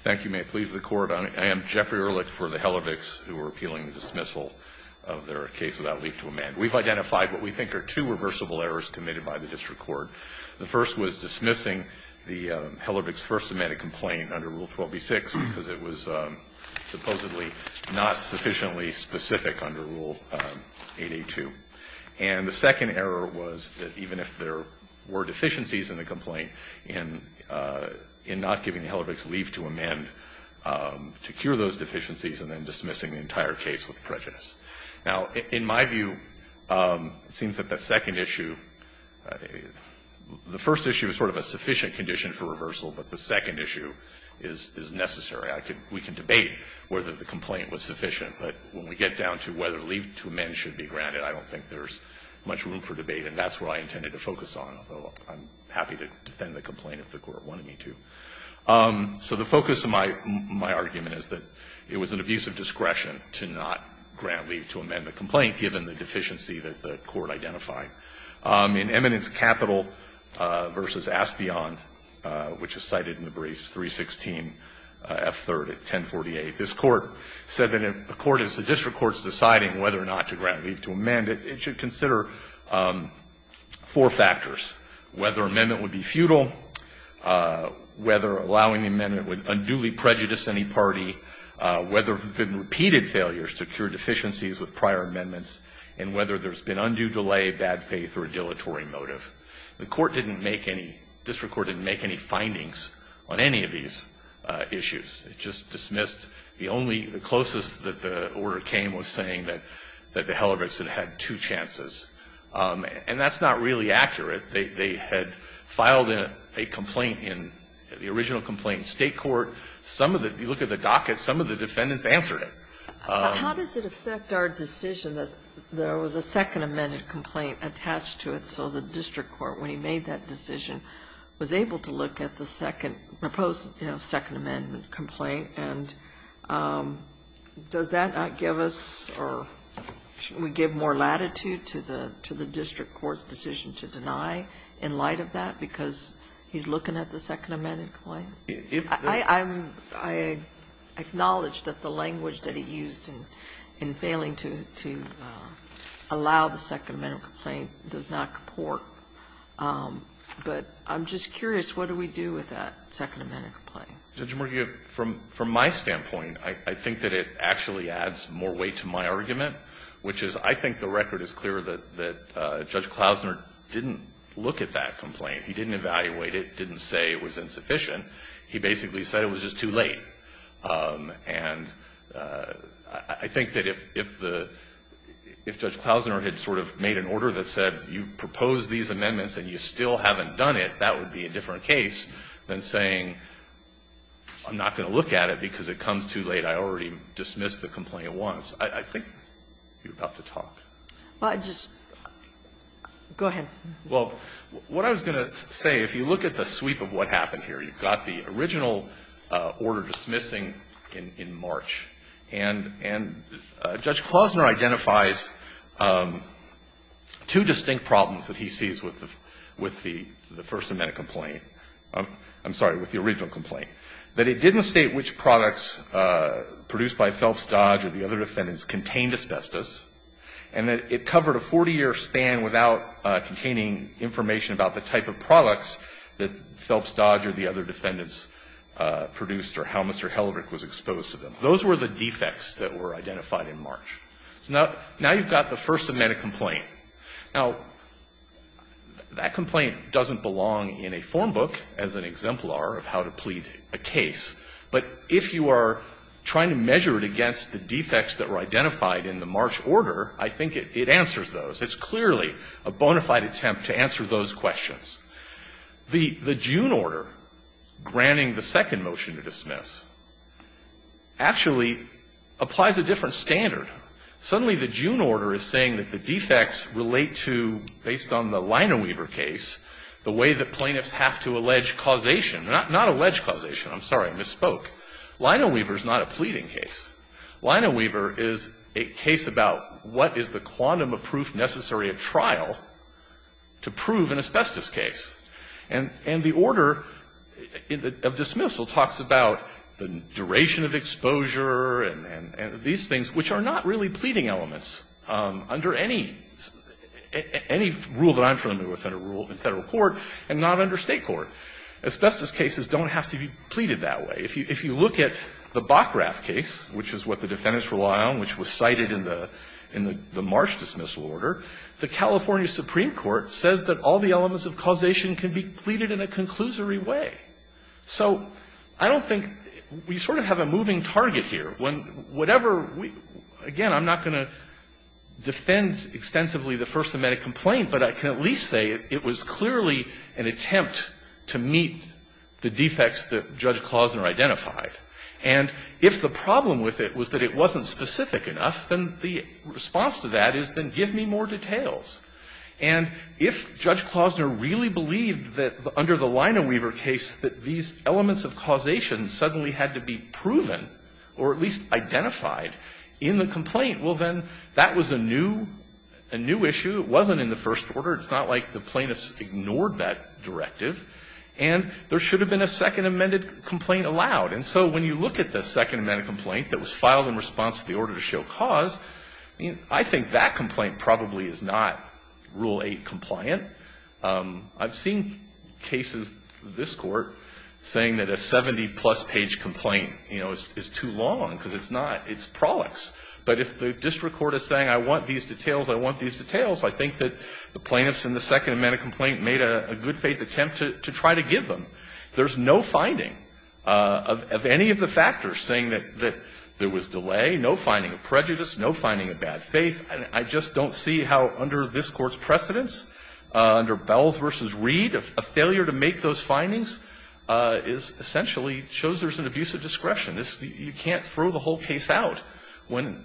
Thank you. May it please the Court. I am Jeffrey Ehrlich for the Hellerviks, who are appealing the dismissal of their case without leaf to amend. We've identified what we think are two reversible errors committed by the district court. The first was dismissing the Hellervik's first amended complaint under Rule 12b-6 because it was supposedly not sufficiently specific under Rule 8a-2. And the second error was that even if there were deficiencies in the complaint, in not giving the Hellervik's leaf to amend to cure those deficiencies and then dismissing the entire case with prejudice. Now, in my view, it seems that the second issue, the first issue is sort of a sufficient condition for reversal, but the second issue is necessary. We can debate whether the complaint was sufficient, but when we get down to whether leaf to amend should be granted, I don't think there's much room for debate, and that's what I intended to focus on, although I'm happy to defend the complaint if the Court wanted me to. So the focus of my argument is that it was an abuse of discretion to not grant leaf to amend the complaint, given the deficiency that the Court identified. In Eminence Capital v. Aspion, which is cited in the briefs 316f3rd at 1048, this Court said that if a court is a district court's deciding whether or not to grant leaf to amend, it should consider four factors, whether amendment would be futile, whether allowing the amendment would unduly prejudice any party, whether there have been repeated failures to cure deficiencies with prior amendments, and whether there's been undue delay, bad faith, or a dilatory motive. The court didn't make any, district court didn't make any findings on any of these issues. It just dismissed the only, the closest that the order came was saying that the Hellebrets had had two chances, and that's not really accurate. They had filed a complaint in the original complaint in State court. Some of the, if you look at the docket, some of the defendants answered it. How does it affect our decision that there was a Second Amendment complaint attached to it, so the district court, when he made that decision, was able to look at the Second, proposed, you know, Second Amendment complaint, and does that not give us, or should we give more latitude to the district court's decision to deny in light of that because he's looking at the Second Amendment complaint? I'm, I acknowledge that the language that he used in failing to, to allow the Second Amendment complaint does not comport, but I'm just curious, what do we do with that Second Amendment complaint? Murphy, from, from my standpoint, I think that it actually adds more weight to my argument, which is, I think the record is clear that, that Judge Klausner didn't look at that complaint. He didn't evaluate it, didn't say it was insufficient. He basically said it was just too late, and I, I think that if, if the, if Judge Klausner had sort of made an order that said, you've proposed these amendments and you still haven't done it, that would be a different case than saying, I'm not going to look at it because it comes too late. I already dismissed the complaint once. I, I think you're about to talk. Well, I just, go ahead. Well, what I was going to say, if you look at the sweep of what happened here, you've got the original order dismissing in, in March, and, and Judge Klausner identifies two distinct problems that he sees with the, with the, the First Amendment complaint, I'm, I'm sorry, with the original complaint, that it didn't state which products produced by Phelps Dodge or the other defendants contained asbestos, and that it covered a 40-year span without containing information about the type of products that Phelps Dodge or the other defendants produced or how Mr. Hellerich was exposed to them. Those were the defects that were identified in March. So now, now you've got the First Amendment complaint. Now, that complaint doesn't belong in a form book as an exemplar of how to plead a case, but if you are trying to measure it against the defects that were identified in the March order, I think it, it answers those. It's clearly a bona fide attempt to answer those questions. The, the June order granting the second motion to dismiss actually applies a different standard. Suddenly, the June order is saying that the defects relate to, based on the Lineweaver case, the way that plaintiffs have to allege causation, not, not allege causation. I'm sorry, I misspoke. Lineweaver is not a pleading case. Lineweaver is a case about what is the quantum of proof necessary at trial to prove an asbestos case. And, and the order of dismissal talks about the duration of exposure and, and, and these things, which are not really pleading elements under any, any rule that I'm familiar with under rule in Federal court and not under State court. Asbestos cases don't have to be pleaded that way. If you, if you look at the Bockrath case, which is what the defendants rely on, which was cited in the, in the, the March dismissal order, the California Supreme Court says that all the elements of causation can be pleaded in a conclusory way. So I don't think, we sort of have a moving target here. When whatever we, again, I'm not going to defend extensively the First Amendment and a complaint, but I can at least say it was clearly an attempt to meet the defects that Judge Klausner identified. And if the problem with it was that it wasn't specific enough, then the response to that is then give me more details. And if Judge Klausner really believed that under the Lineweaver case that these elements of causation suddenly had to be proven or at least identified in the complaint, well, then that was a new, a new issue. It wasn't in the first order. It's not like the plaintiffs ignored that directive. And there should have been a Second Amendment complaint allowed. And so when you look at the Second Amendment complaint that was filed in response to the order to show cause, I think that complaint probably is not Rule 8 compliant. I've seen cases, this Court, saying that a 70-plus page complaint, you know, is too long because it's not, it's prolix. But if the district court is saying, I want these details, I want these details, I think that the plaintiffs in the Second Amendment complaint made a good faith attempt to try to give them. There's no finding of any of the factors saying that there was delay, no finding of prejudice, no finding of bad faith. I just don't see how under this Court's precedence, under Bells v. Reed, a failure to make those findings is essentially, shows there's an abuse of discretion. This, you can't throw the whole case out when,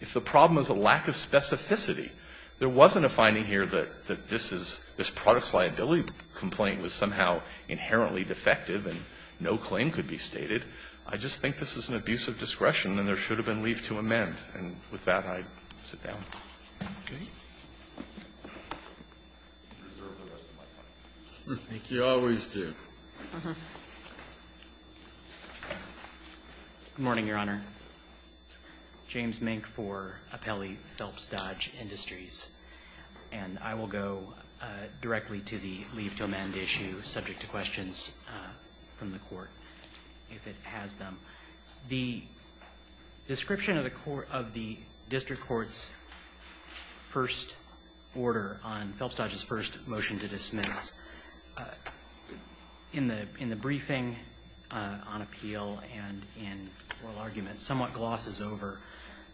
if the problem is a lack of specificity. There wasn't a finding here that this is, this product's liability complaint was somehow inherently defective and no claim could be stated. I just think this is an abuse of discretion, and there should have been leave to amend. And with that, I sit down. Roberts, I think you always do. Good morning, Your Honor. James Mink for Apelli Phelps Dodge Industries. And I will go directly to the leave to amend issue subject to questions from the Court, if it has them. The description of the court, of the district court's first order on Phelps Dodge's first motion to dismiss, in the briefing on appeal and in oral argument, somewhat glosses over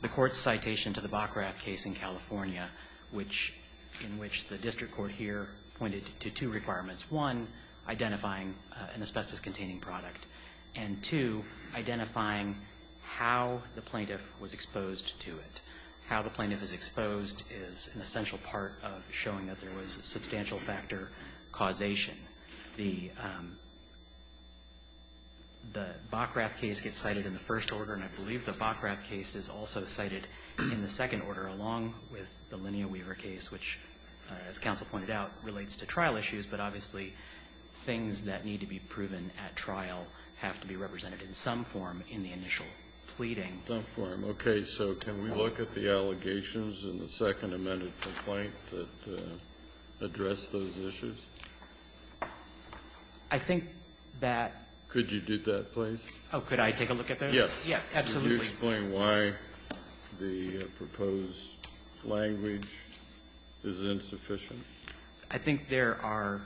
the Court's citation to the Bockrath case in California, which, in which the district court here pointed to two requirements. One, identifying an asbestos-containing product. And two, identifying how the plaintiff was exposed to it. How the plaintiff is exposed is an essential part of showing that there was substantial factor causation. The Bockrath case gets cited in the first order, and I believe the Bockrath case is also cited in the second order, along with the Linea Weaver case, which, as counsel pointed out, relates to trial issues. But, obviously, things that need to be proven at trial have to be represented in some form in the initial pleading. Some form. Okay. So can we look at the allegations in the second amended complaint that addressed those issues? I think that ---- Could you do that, please? Oh, could I take a look at those? Yes. Yes. Absolutely. Could you explain why the proposed language is insufficient? I think there are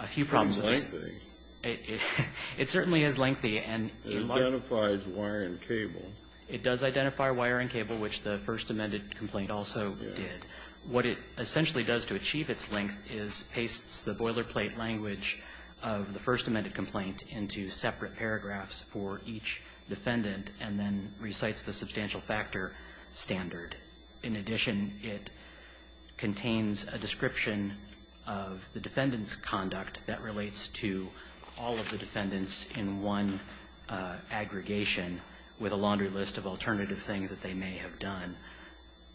a few problems. It's lengthy. It certainly is lengthy. It identifies wire and cable. It does identify wire and cable, which the first amended complaint also did. What it essentially does to achieve its length is pastes the boilerplate language of the first amended complaint into separate paragraphs for each defendant and then recites the substantial factor standard. In addition, it contains a description of the defendant's conduct that relates to all of the defendants in one aggregation with a laundry list of alternative things that they may have done,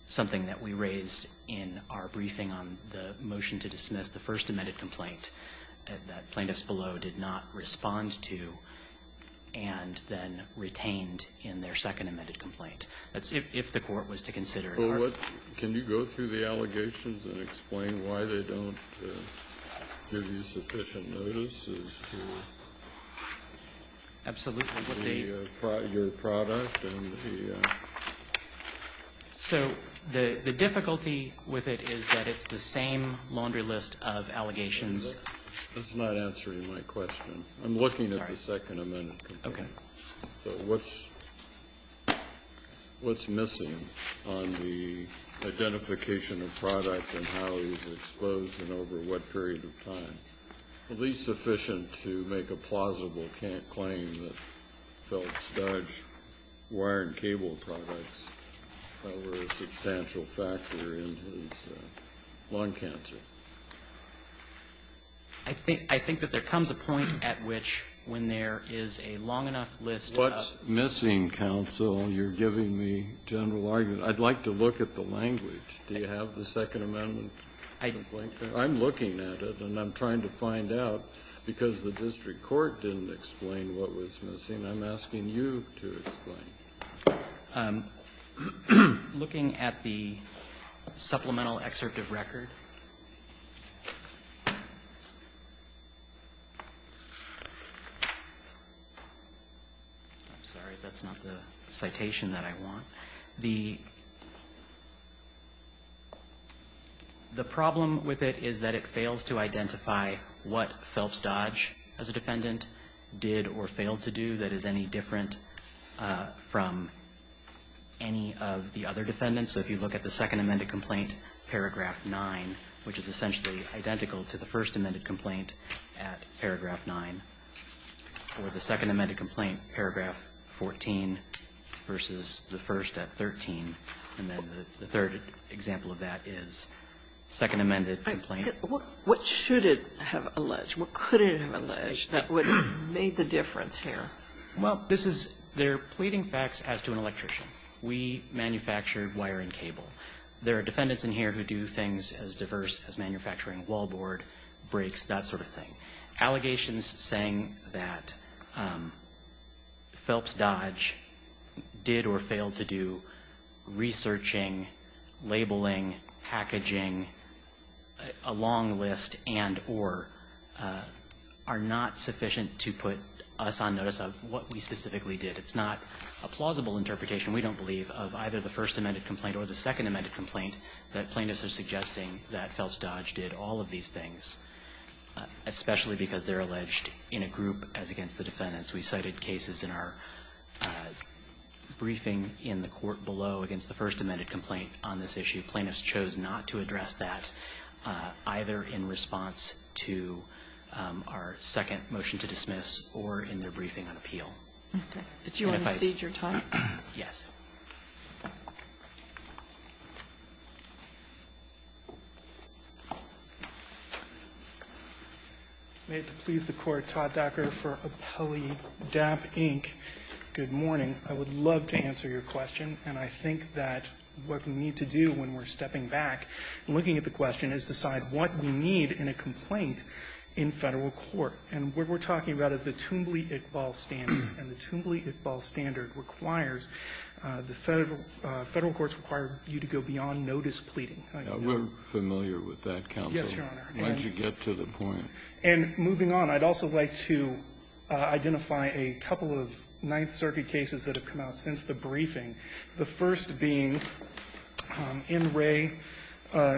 something that we raised in our briefing on the motion to dismiss the first amended complaint that plaintiffs below did not respond to and then retained in their second amended complaint. If the Court was to consider it. Well, what ---- can you go through the allegations and explain why they don't give you sufficient notice as to your product and the ---- So the difficulty with it is that it's the same laundry list of allegations. That's not answering my question. I'm looking at the second amended complaint. Okay. So what's missing on the identification of product and how it was exposed and over what period of time, at least sufficient to make a plausible claim that Feltz-Dodge wire and cable products were a substantial factor in his lung cancer? I think that there comes a point at which when there is a long enough list of ---- What's missing, counsel, you're giving me general argument. I'd like to look at the language. Do you have the second amendment complaint? I'm looking at it, and I'm trying to find out, because the district court didn't explain what was missing. I'm asking you to explain. I'm looking at the supplemental excerpt of record. I'm sorry. That's not the citation that I want. The problem with it is that it fails to identify what Feltz-Dodge, as a defendant, did or failed to do that is any different from any of the other defendants. So if you look at the second amended complaint, paragraph 9, which is essentially identical to the first amended complaint at paragraph 9, or the second amended complaint, paragraph 14 versus the first at 13, and then the third example of that is second amended complaint. What should it have alleged? What could it have alleged that would have made the difference here? Well, this is they're pleading facts as to an electrician. We manufacture wire and cable. There are defendants in here who do things as diverse as manufacturing wall board, brakes, that sort of thing. Allegations saying that Feltz-Dodge did or failed to do researching, labeling, packaging, a long list and or are not sufficient to put us on notice of what we specifically did. It's not a plausible interpretation, we don't believe, of either the first amended complaint or the second amended complaint that plaintiffs are suggesting that Feltz-Dodge did all of these things, especially because they're alleged in a group as against the defendants. We cited cases in our briefing in the court below against the first amended complaint on this issue. Plaintiffs chose not to address that, either in response to our second motion to dismiss or in their briefing on appeal. And if I could just say that's not the case. May it please the Court, Todd Dacker for Appellee DAP, Inc., good morning. I would love to answer your question, and I think that what we need to do when we're stepping back and looking at the question is decide what we need in a complaint in Federal court. And what we're talking about is the Toombley-Iqbal standard, and the Toombley-Iqbal standard requires the Federal courts require you to go beyond notice pleading. We're familiar with that, counsel. Yes, Your Honor. Once you get to the point. And moving on, I'd also like to identify a couple of Ninth Circuit cases that have come out since the briefing, the first being NRA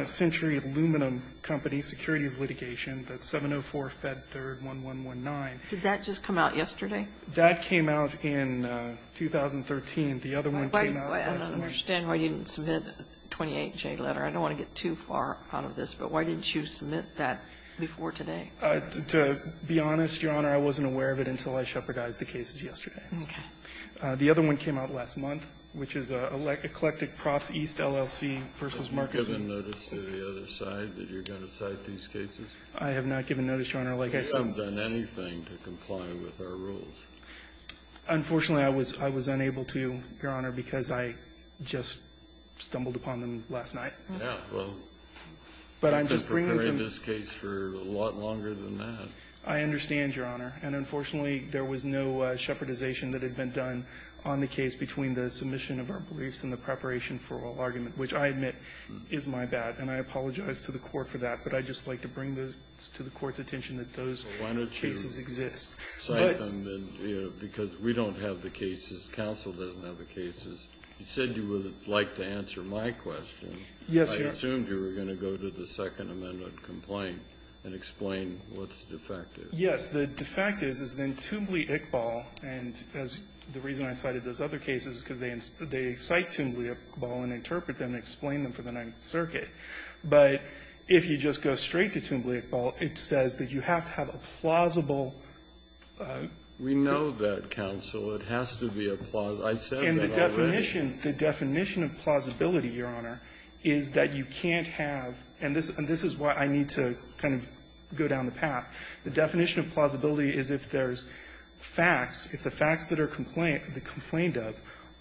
Century Aluminum Company securities litigation, the 704-Fed-3-1119. Did that just come out yesterday? That came out in 2013. The other one came out last year. I don't understand why you didn't submit a 28-J letter. I don't want to get too far out of this, but why didn't you submit that before today? To be honest, Your Honor, I wasn't aware of it until I shepherdized the cases yesterday. Okay. The other one came out last month, which is Eclectic Props East LLC v. Marcus. Have you given notice to the other side that you're going to cite these cases? I have not given notice, Your Honor. Like I said we haven't done anything to comply with our rules. Unfortunately, I was unable to, Your Honor, because I just stumbled upon them last night. Yeah. Well, you could have prepared this case for a lot longer than that. I understand, Your Honor. And unfortunately, there was no shepherdization that had been done on the case between the submission of our beliefs and the preparation for oral argument, which I admit is my bad, and I apologize to the Court for that. But I'd just like to bring to the Court's attention that those cases exist. But you know, because we don't have the cases, counsel doesn't have the cases. You said you would like to answer my question. Yes, Your Honor. I assumed you were going to go to the Second Amendment complaint and explain what's defective. Yes. The defective is then Tumblee-Iqbal, and the reason I cited those other cases is because they cite Tumblee-Iqbal and interpret them and explain them for the Ninth Circuit. But if you just go straight to Tumblee-Iqbal, it says that you have to have a plausible cause of action. We know that, counsel. It has to be a plausible. I said that already. And the definition, the definition of plausibility, Your Honor, is that you can't have, and this is why I need to kind of go down the path, the definition of plausibility is if there's facts, if the facts that are complained of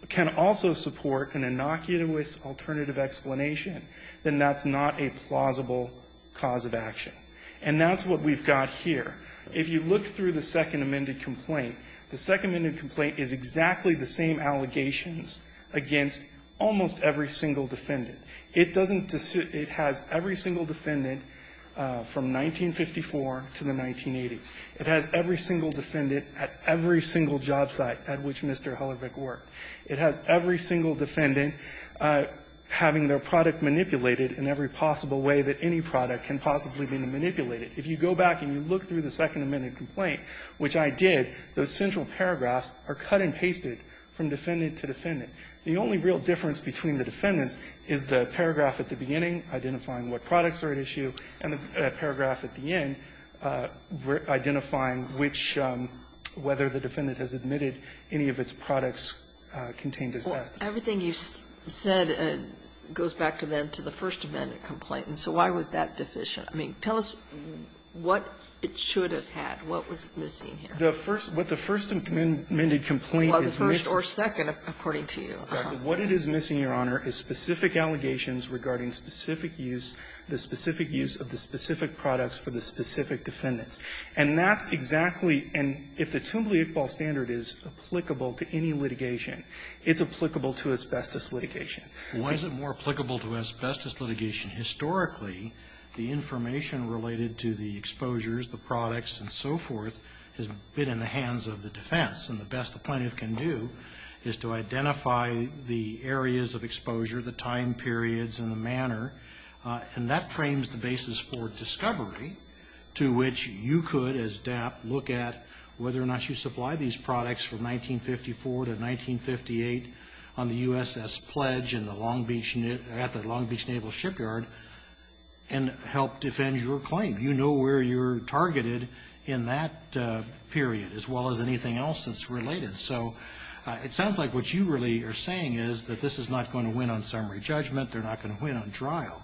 can also support an innocuous alternative explanation, then that's not a plausible cause of action. And that's what we've got here. If you look through the Second Amendment complaint, the Second Amendment complaint is exactly the same allegations against almost every single defendant. It doesn't decide – it has every single defendant from 1954 to the 1980s. It has every single defendant at every single job site at which Mr. Hellerbeck worked. It has every single defendant having their product manipulated in every possible way that any product can possibly be manipulated. If you go back and you look through the Second Amendment complaint, which I did, those central paragraphs are cut and pasted from defendant to defendant. The only real difference between the defendants is the paragraph at the beginning identifying what products are at issue and the paragraph at the end identifying which – whether the defendant has admitted any of its products contained as best. Everything you said goes back to then to the First Amendment complaint, and so why was that deficient? I mean, tell us what it should have had. What was missing here? The first – what the First Amendment complaint is missing – Well, the first or second, according to you. Exactly. What it is missing, Your Honor, is specific allegations regarding specific use, the specific use of the specific products for the specific defendants. And that's exactly – and if the Toombley-Iqbal standard is applicable to any litigation, it's applicable to asbestos litigation. Why is it more applicable to asbestos litigation? Historically, the information related to the exposures, the products, and so forth has been in the hands of the defense. And the best the plaintiff can do is to identify the areas of exposure, the time periods, and the manner, and that frames the basis for discovery to which you could, as DAP, look at whether or not you supply these products from 1954 to 1958 on the and help defend your claim. You know where you're targeted in that period, as well as anything else that's related. So it sounds like what you really are saying is that this is not going to win on summary judgment. They're not going to win on trial.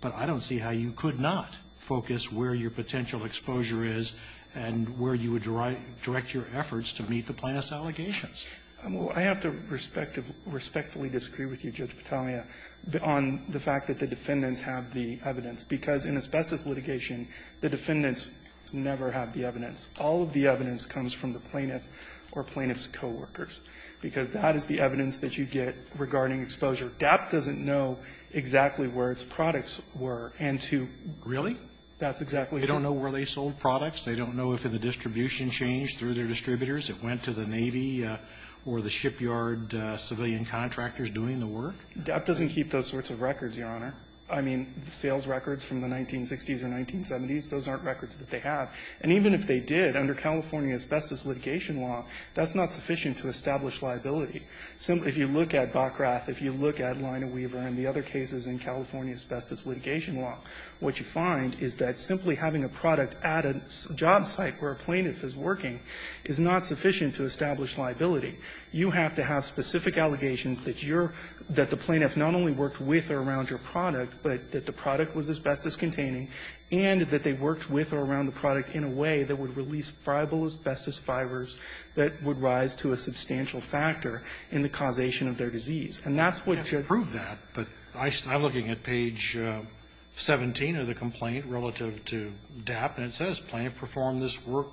But I don't see how you could not focus where your potential exposure is and where you would direct your efforts to meet the plaintiff's allegations. Well, I have to respectfully disagree with you, Judge Battaglia, on the fact that the defendants have the evidence, because in asbestos litigation, the defendants never have the evidence. All of the evidence comes from the plaintiff or plaintiff's coworkers, because that is the evidence that you get regarding exposure. DAP doesn't know exactly where its products were and to do that. Really? They don't know where they sold products. They don't know if the distribution changed through their distributors. It went to the Navy or the shipyard civilian contractors doing the work. DAP doesn't keep those sorts of records, Your Honor. I mean, sales records from the 1960s or 1970s, those aren't records that they have. And even if they did, under California asbestos litigation law, that's not sufficient to establish liability. If you look at Bockrath, if you look at Lina Weaver and the other cases in California asbestos litigation law, what you find is that simply having a product at a job site where a plaintiff is working is not sufficient to establish liability. You have to have specific allegations that you're – that the plaintiff not only worked with or around your product, but that the product was asbestos-containing, and that they worked with or around the product in a way that would release friable asbestos fibers that would rise to a substantial factor in the causation of their disease. And that's what you're going to have to prove that. But I'm looking at page 17 of the complaint relative to DAP, and it says, Well,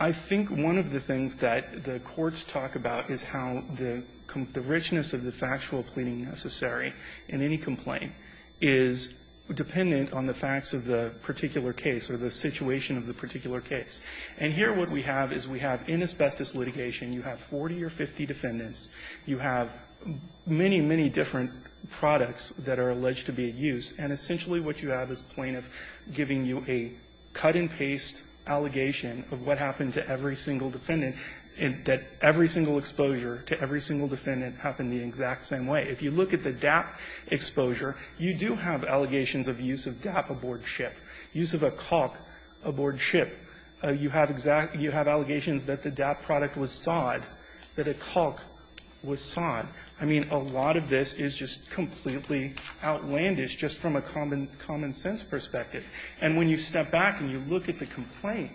I think one of the things that the courts talk about is how the richness of the factual pleading necessary in any complaint is dependent on the facts of the particular case or the situation of the particular case. And here what we have is we have in asbestos litigation, you have a case that's you have 40 or 50 defendants. You have many, many different products that are alleged to be at use. And essentially what you have is plaintiff giving you a cut-and-paste allegation of what happened to every single defendant, that every single exposure to every single defendant happened the exact same way. If you look at the DAP exposure, you do have allegations of use of DAP aboard ship, use of a caulk aboard ship. You have exact you have allegations that the DAP product was sod, that a caulk was sod. I mean, a lot of this is just completely outlandish just from a common common-sense perspective. And when you step back and you look at the complaint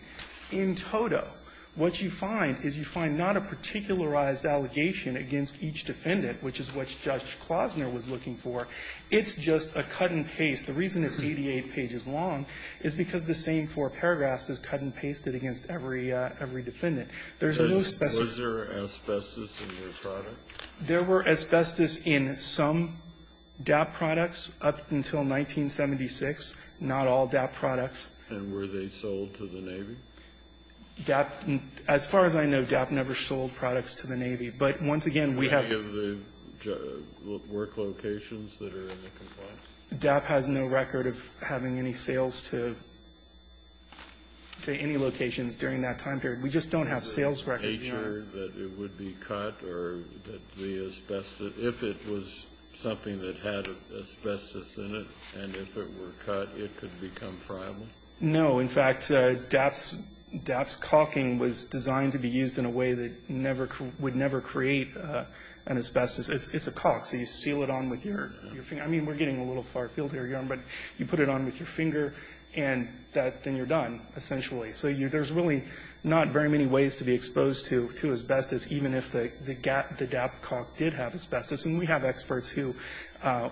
in toto, what you find is you find not a particularized allegation against each defendant, which is what Judge Klosner was looking for. It's just a cut-and-paste. The reason it's 88 pages long is because the same four paragraphs is cut-and-pasted against every defendant. There's no specific ---- Kennedy, was there asbestos in your product? There were asbestos in some DAP products up until 1976, not all DAP products. And were they sold to the Navy? DAP, as far as I know, DAP never sold products to the Navy. But once again, we have ---- Any of the work locations that are in the complaint? DAP has no record of having any sales to any locations during that time period. We just don't have sales records. Is it natured that it would be cut or that the asbestos ---- if it was something that had asbestos in it, and if it were cut, it could become friable? No. In fact, DAP's caulking was designed to be used in a way that never ---- would never create an asbestos. It's a caulk, so you seal it on with your finger. I mean, we're getting a little far afield here, Your Honor, but you put it on with your finger, and that ---- then you're done, essentially. So there's really not very many ways to be exposed to asbestos, even if the DAP caulk did have asbestos. And we have experts who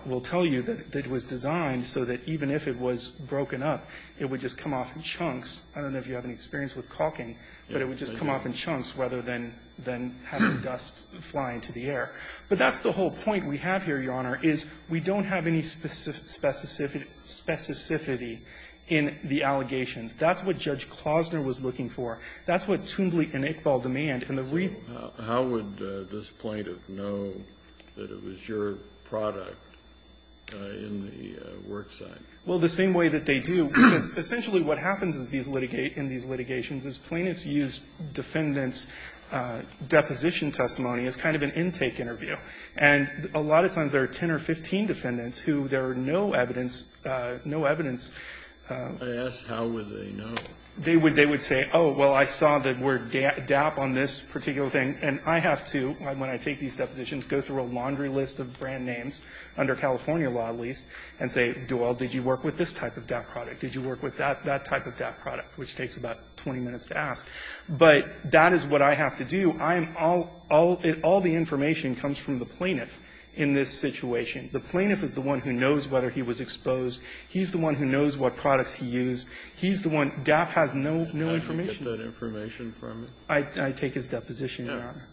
will tell you that it was designed so that even if it was broken up, it would just come off in chunks. I don't know if you have any experience with caulking, but it would just come off in chunks rather than having dust fly into the air. But that's the whole point we have here, Your Honor, is we don't have any specific ---- specificity in the allegations. That's what Judge Klosner was looking for. That's what Toombley and Iqbal demand, and the reason ---- Kennedy, how would this plaintiff know that it was your product in the work site? Well, the same way that they do, because essentially what happens in these litigations is plaintiffs use defendants' deposition testimony as kind of an intake interview. And a lot of times there are 10 or 15 defendants who there are no evidence, no evidence. I asked how would they know. They would say, oh, well, I saw that word DAP on this particular thing, and I have to, when I take these depositions, go through a laundry list of brand names, under California law at least, and say, do all ---- did you work with this type of DAP product? Did you work with that type of DAP product? Which takes about 20 minutes to ask, but that is what I have to do. I am all ---- all the information comes from the plaintiff in this situation. The plaintiff is the one who knows whether he was exposed. He's the one who knows what products he used. He's the one ---- DAP has no information. Kennedy, did you get that information from him? I take his deposition, Your Honor.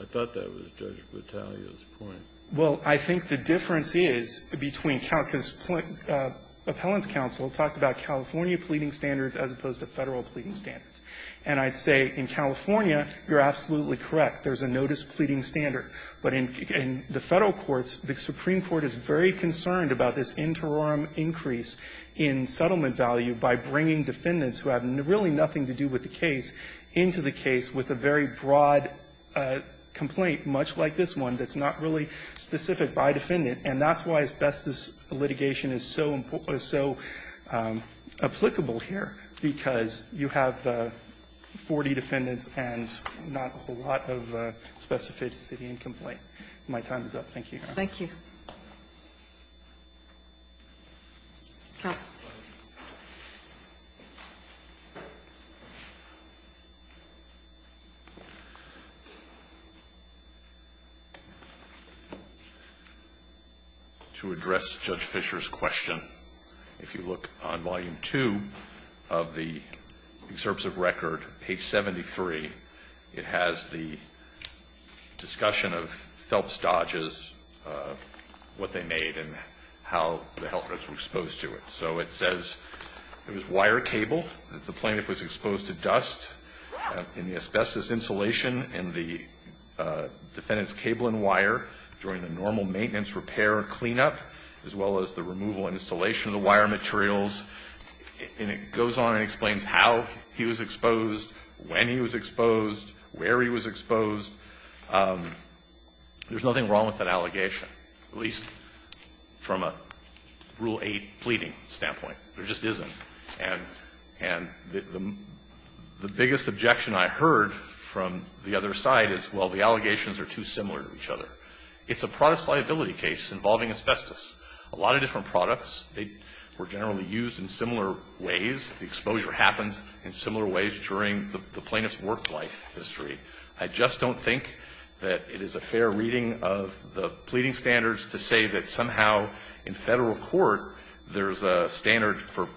I thought that was Judge Battaglia's point. Well, I think the difference is between ---- because Appellant's counsel talked about California pleading standards as opposed to Federal pleading standards. And I'd say in California, you're absolutely correct. There's a notice pleading standard. But in the Federal courts, the Supreme Court is very concerned about this interim increase in settlement value by bringing defendants who have really nothing to do with the case into the case with a very broad complaint, much like this one, that's not really specific by defendant. And that's why asbestos litigation is so applicable here, because you have 40 defendants and not a whole lot of specificity in complaint. My time is up. Thank you, Your Honor. Thank you. Counsel. To address Judge Fischer's question, if you look on Volume 2 of the Excerpts of Record, page 73, it has the discussion of Phelps-Dodges, what they made and how the helpers were exposed to it. So it says it was wire cable, that the plaintiff was exposed to dust in the asbestos insulation and the defendant's cable and wire during the normal maintenance repair and cleanup, as well as the removal and installation of the wire materials. And it goes on and explains how he was exposed, when he was exposed, where he was exposed. There's nothing wrong with that allegation. At least from a Rule 8 pleading standpoint, there just isn't. And the biggest objection I heard from the other side is, well, the allegations are too similar to each other. It's a product liability case involving asbestos. A lot of different products, they were generally used in similar ways. The exposure happens in similar ways during the plaintiff's work life history. I just don't think that it is a fair reading of the pleading standards to say that somehow in federal court, there's a standard for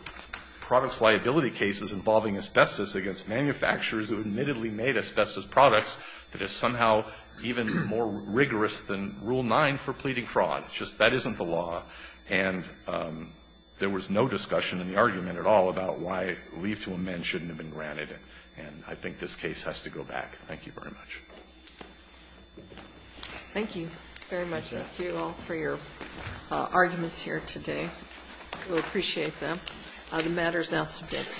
products liability cases involving asbestos against manufacturers who admittedly made asbestos products that is somehow even more rigorous than Rule 9 for pleading fraud. It's just that isn't the law. And there was no discussion in the argument at all about why leave to amend shouldn't have been granted. And I think this case has to go back. Thank you very much. Thank you very much. Thank you all for your arguments here today. We appreciate them. The matter is now submitted.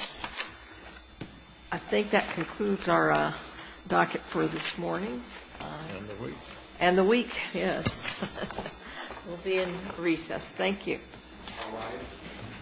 I think that concludes our docket for this morning. And the week. And the week, yes. We'll be in recess. Thank you.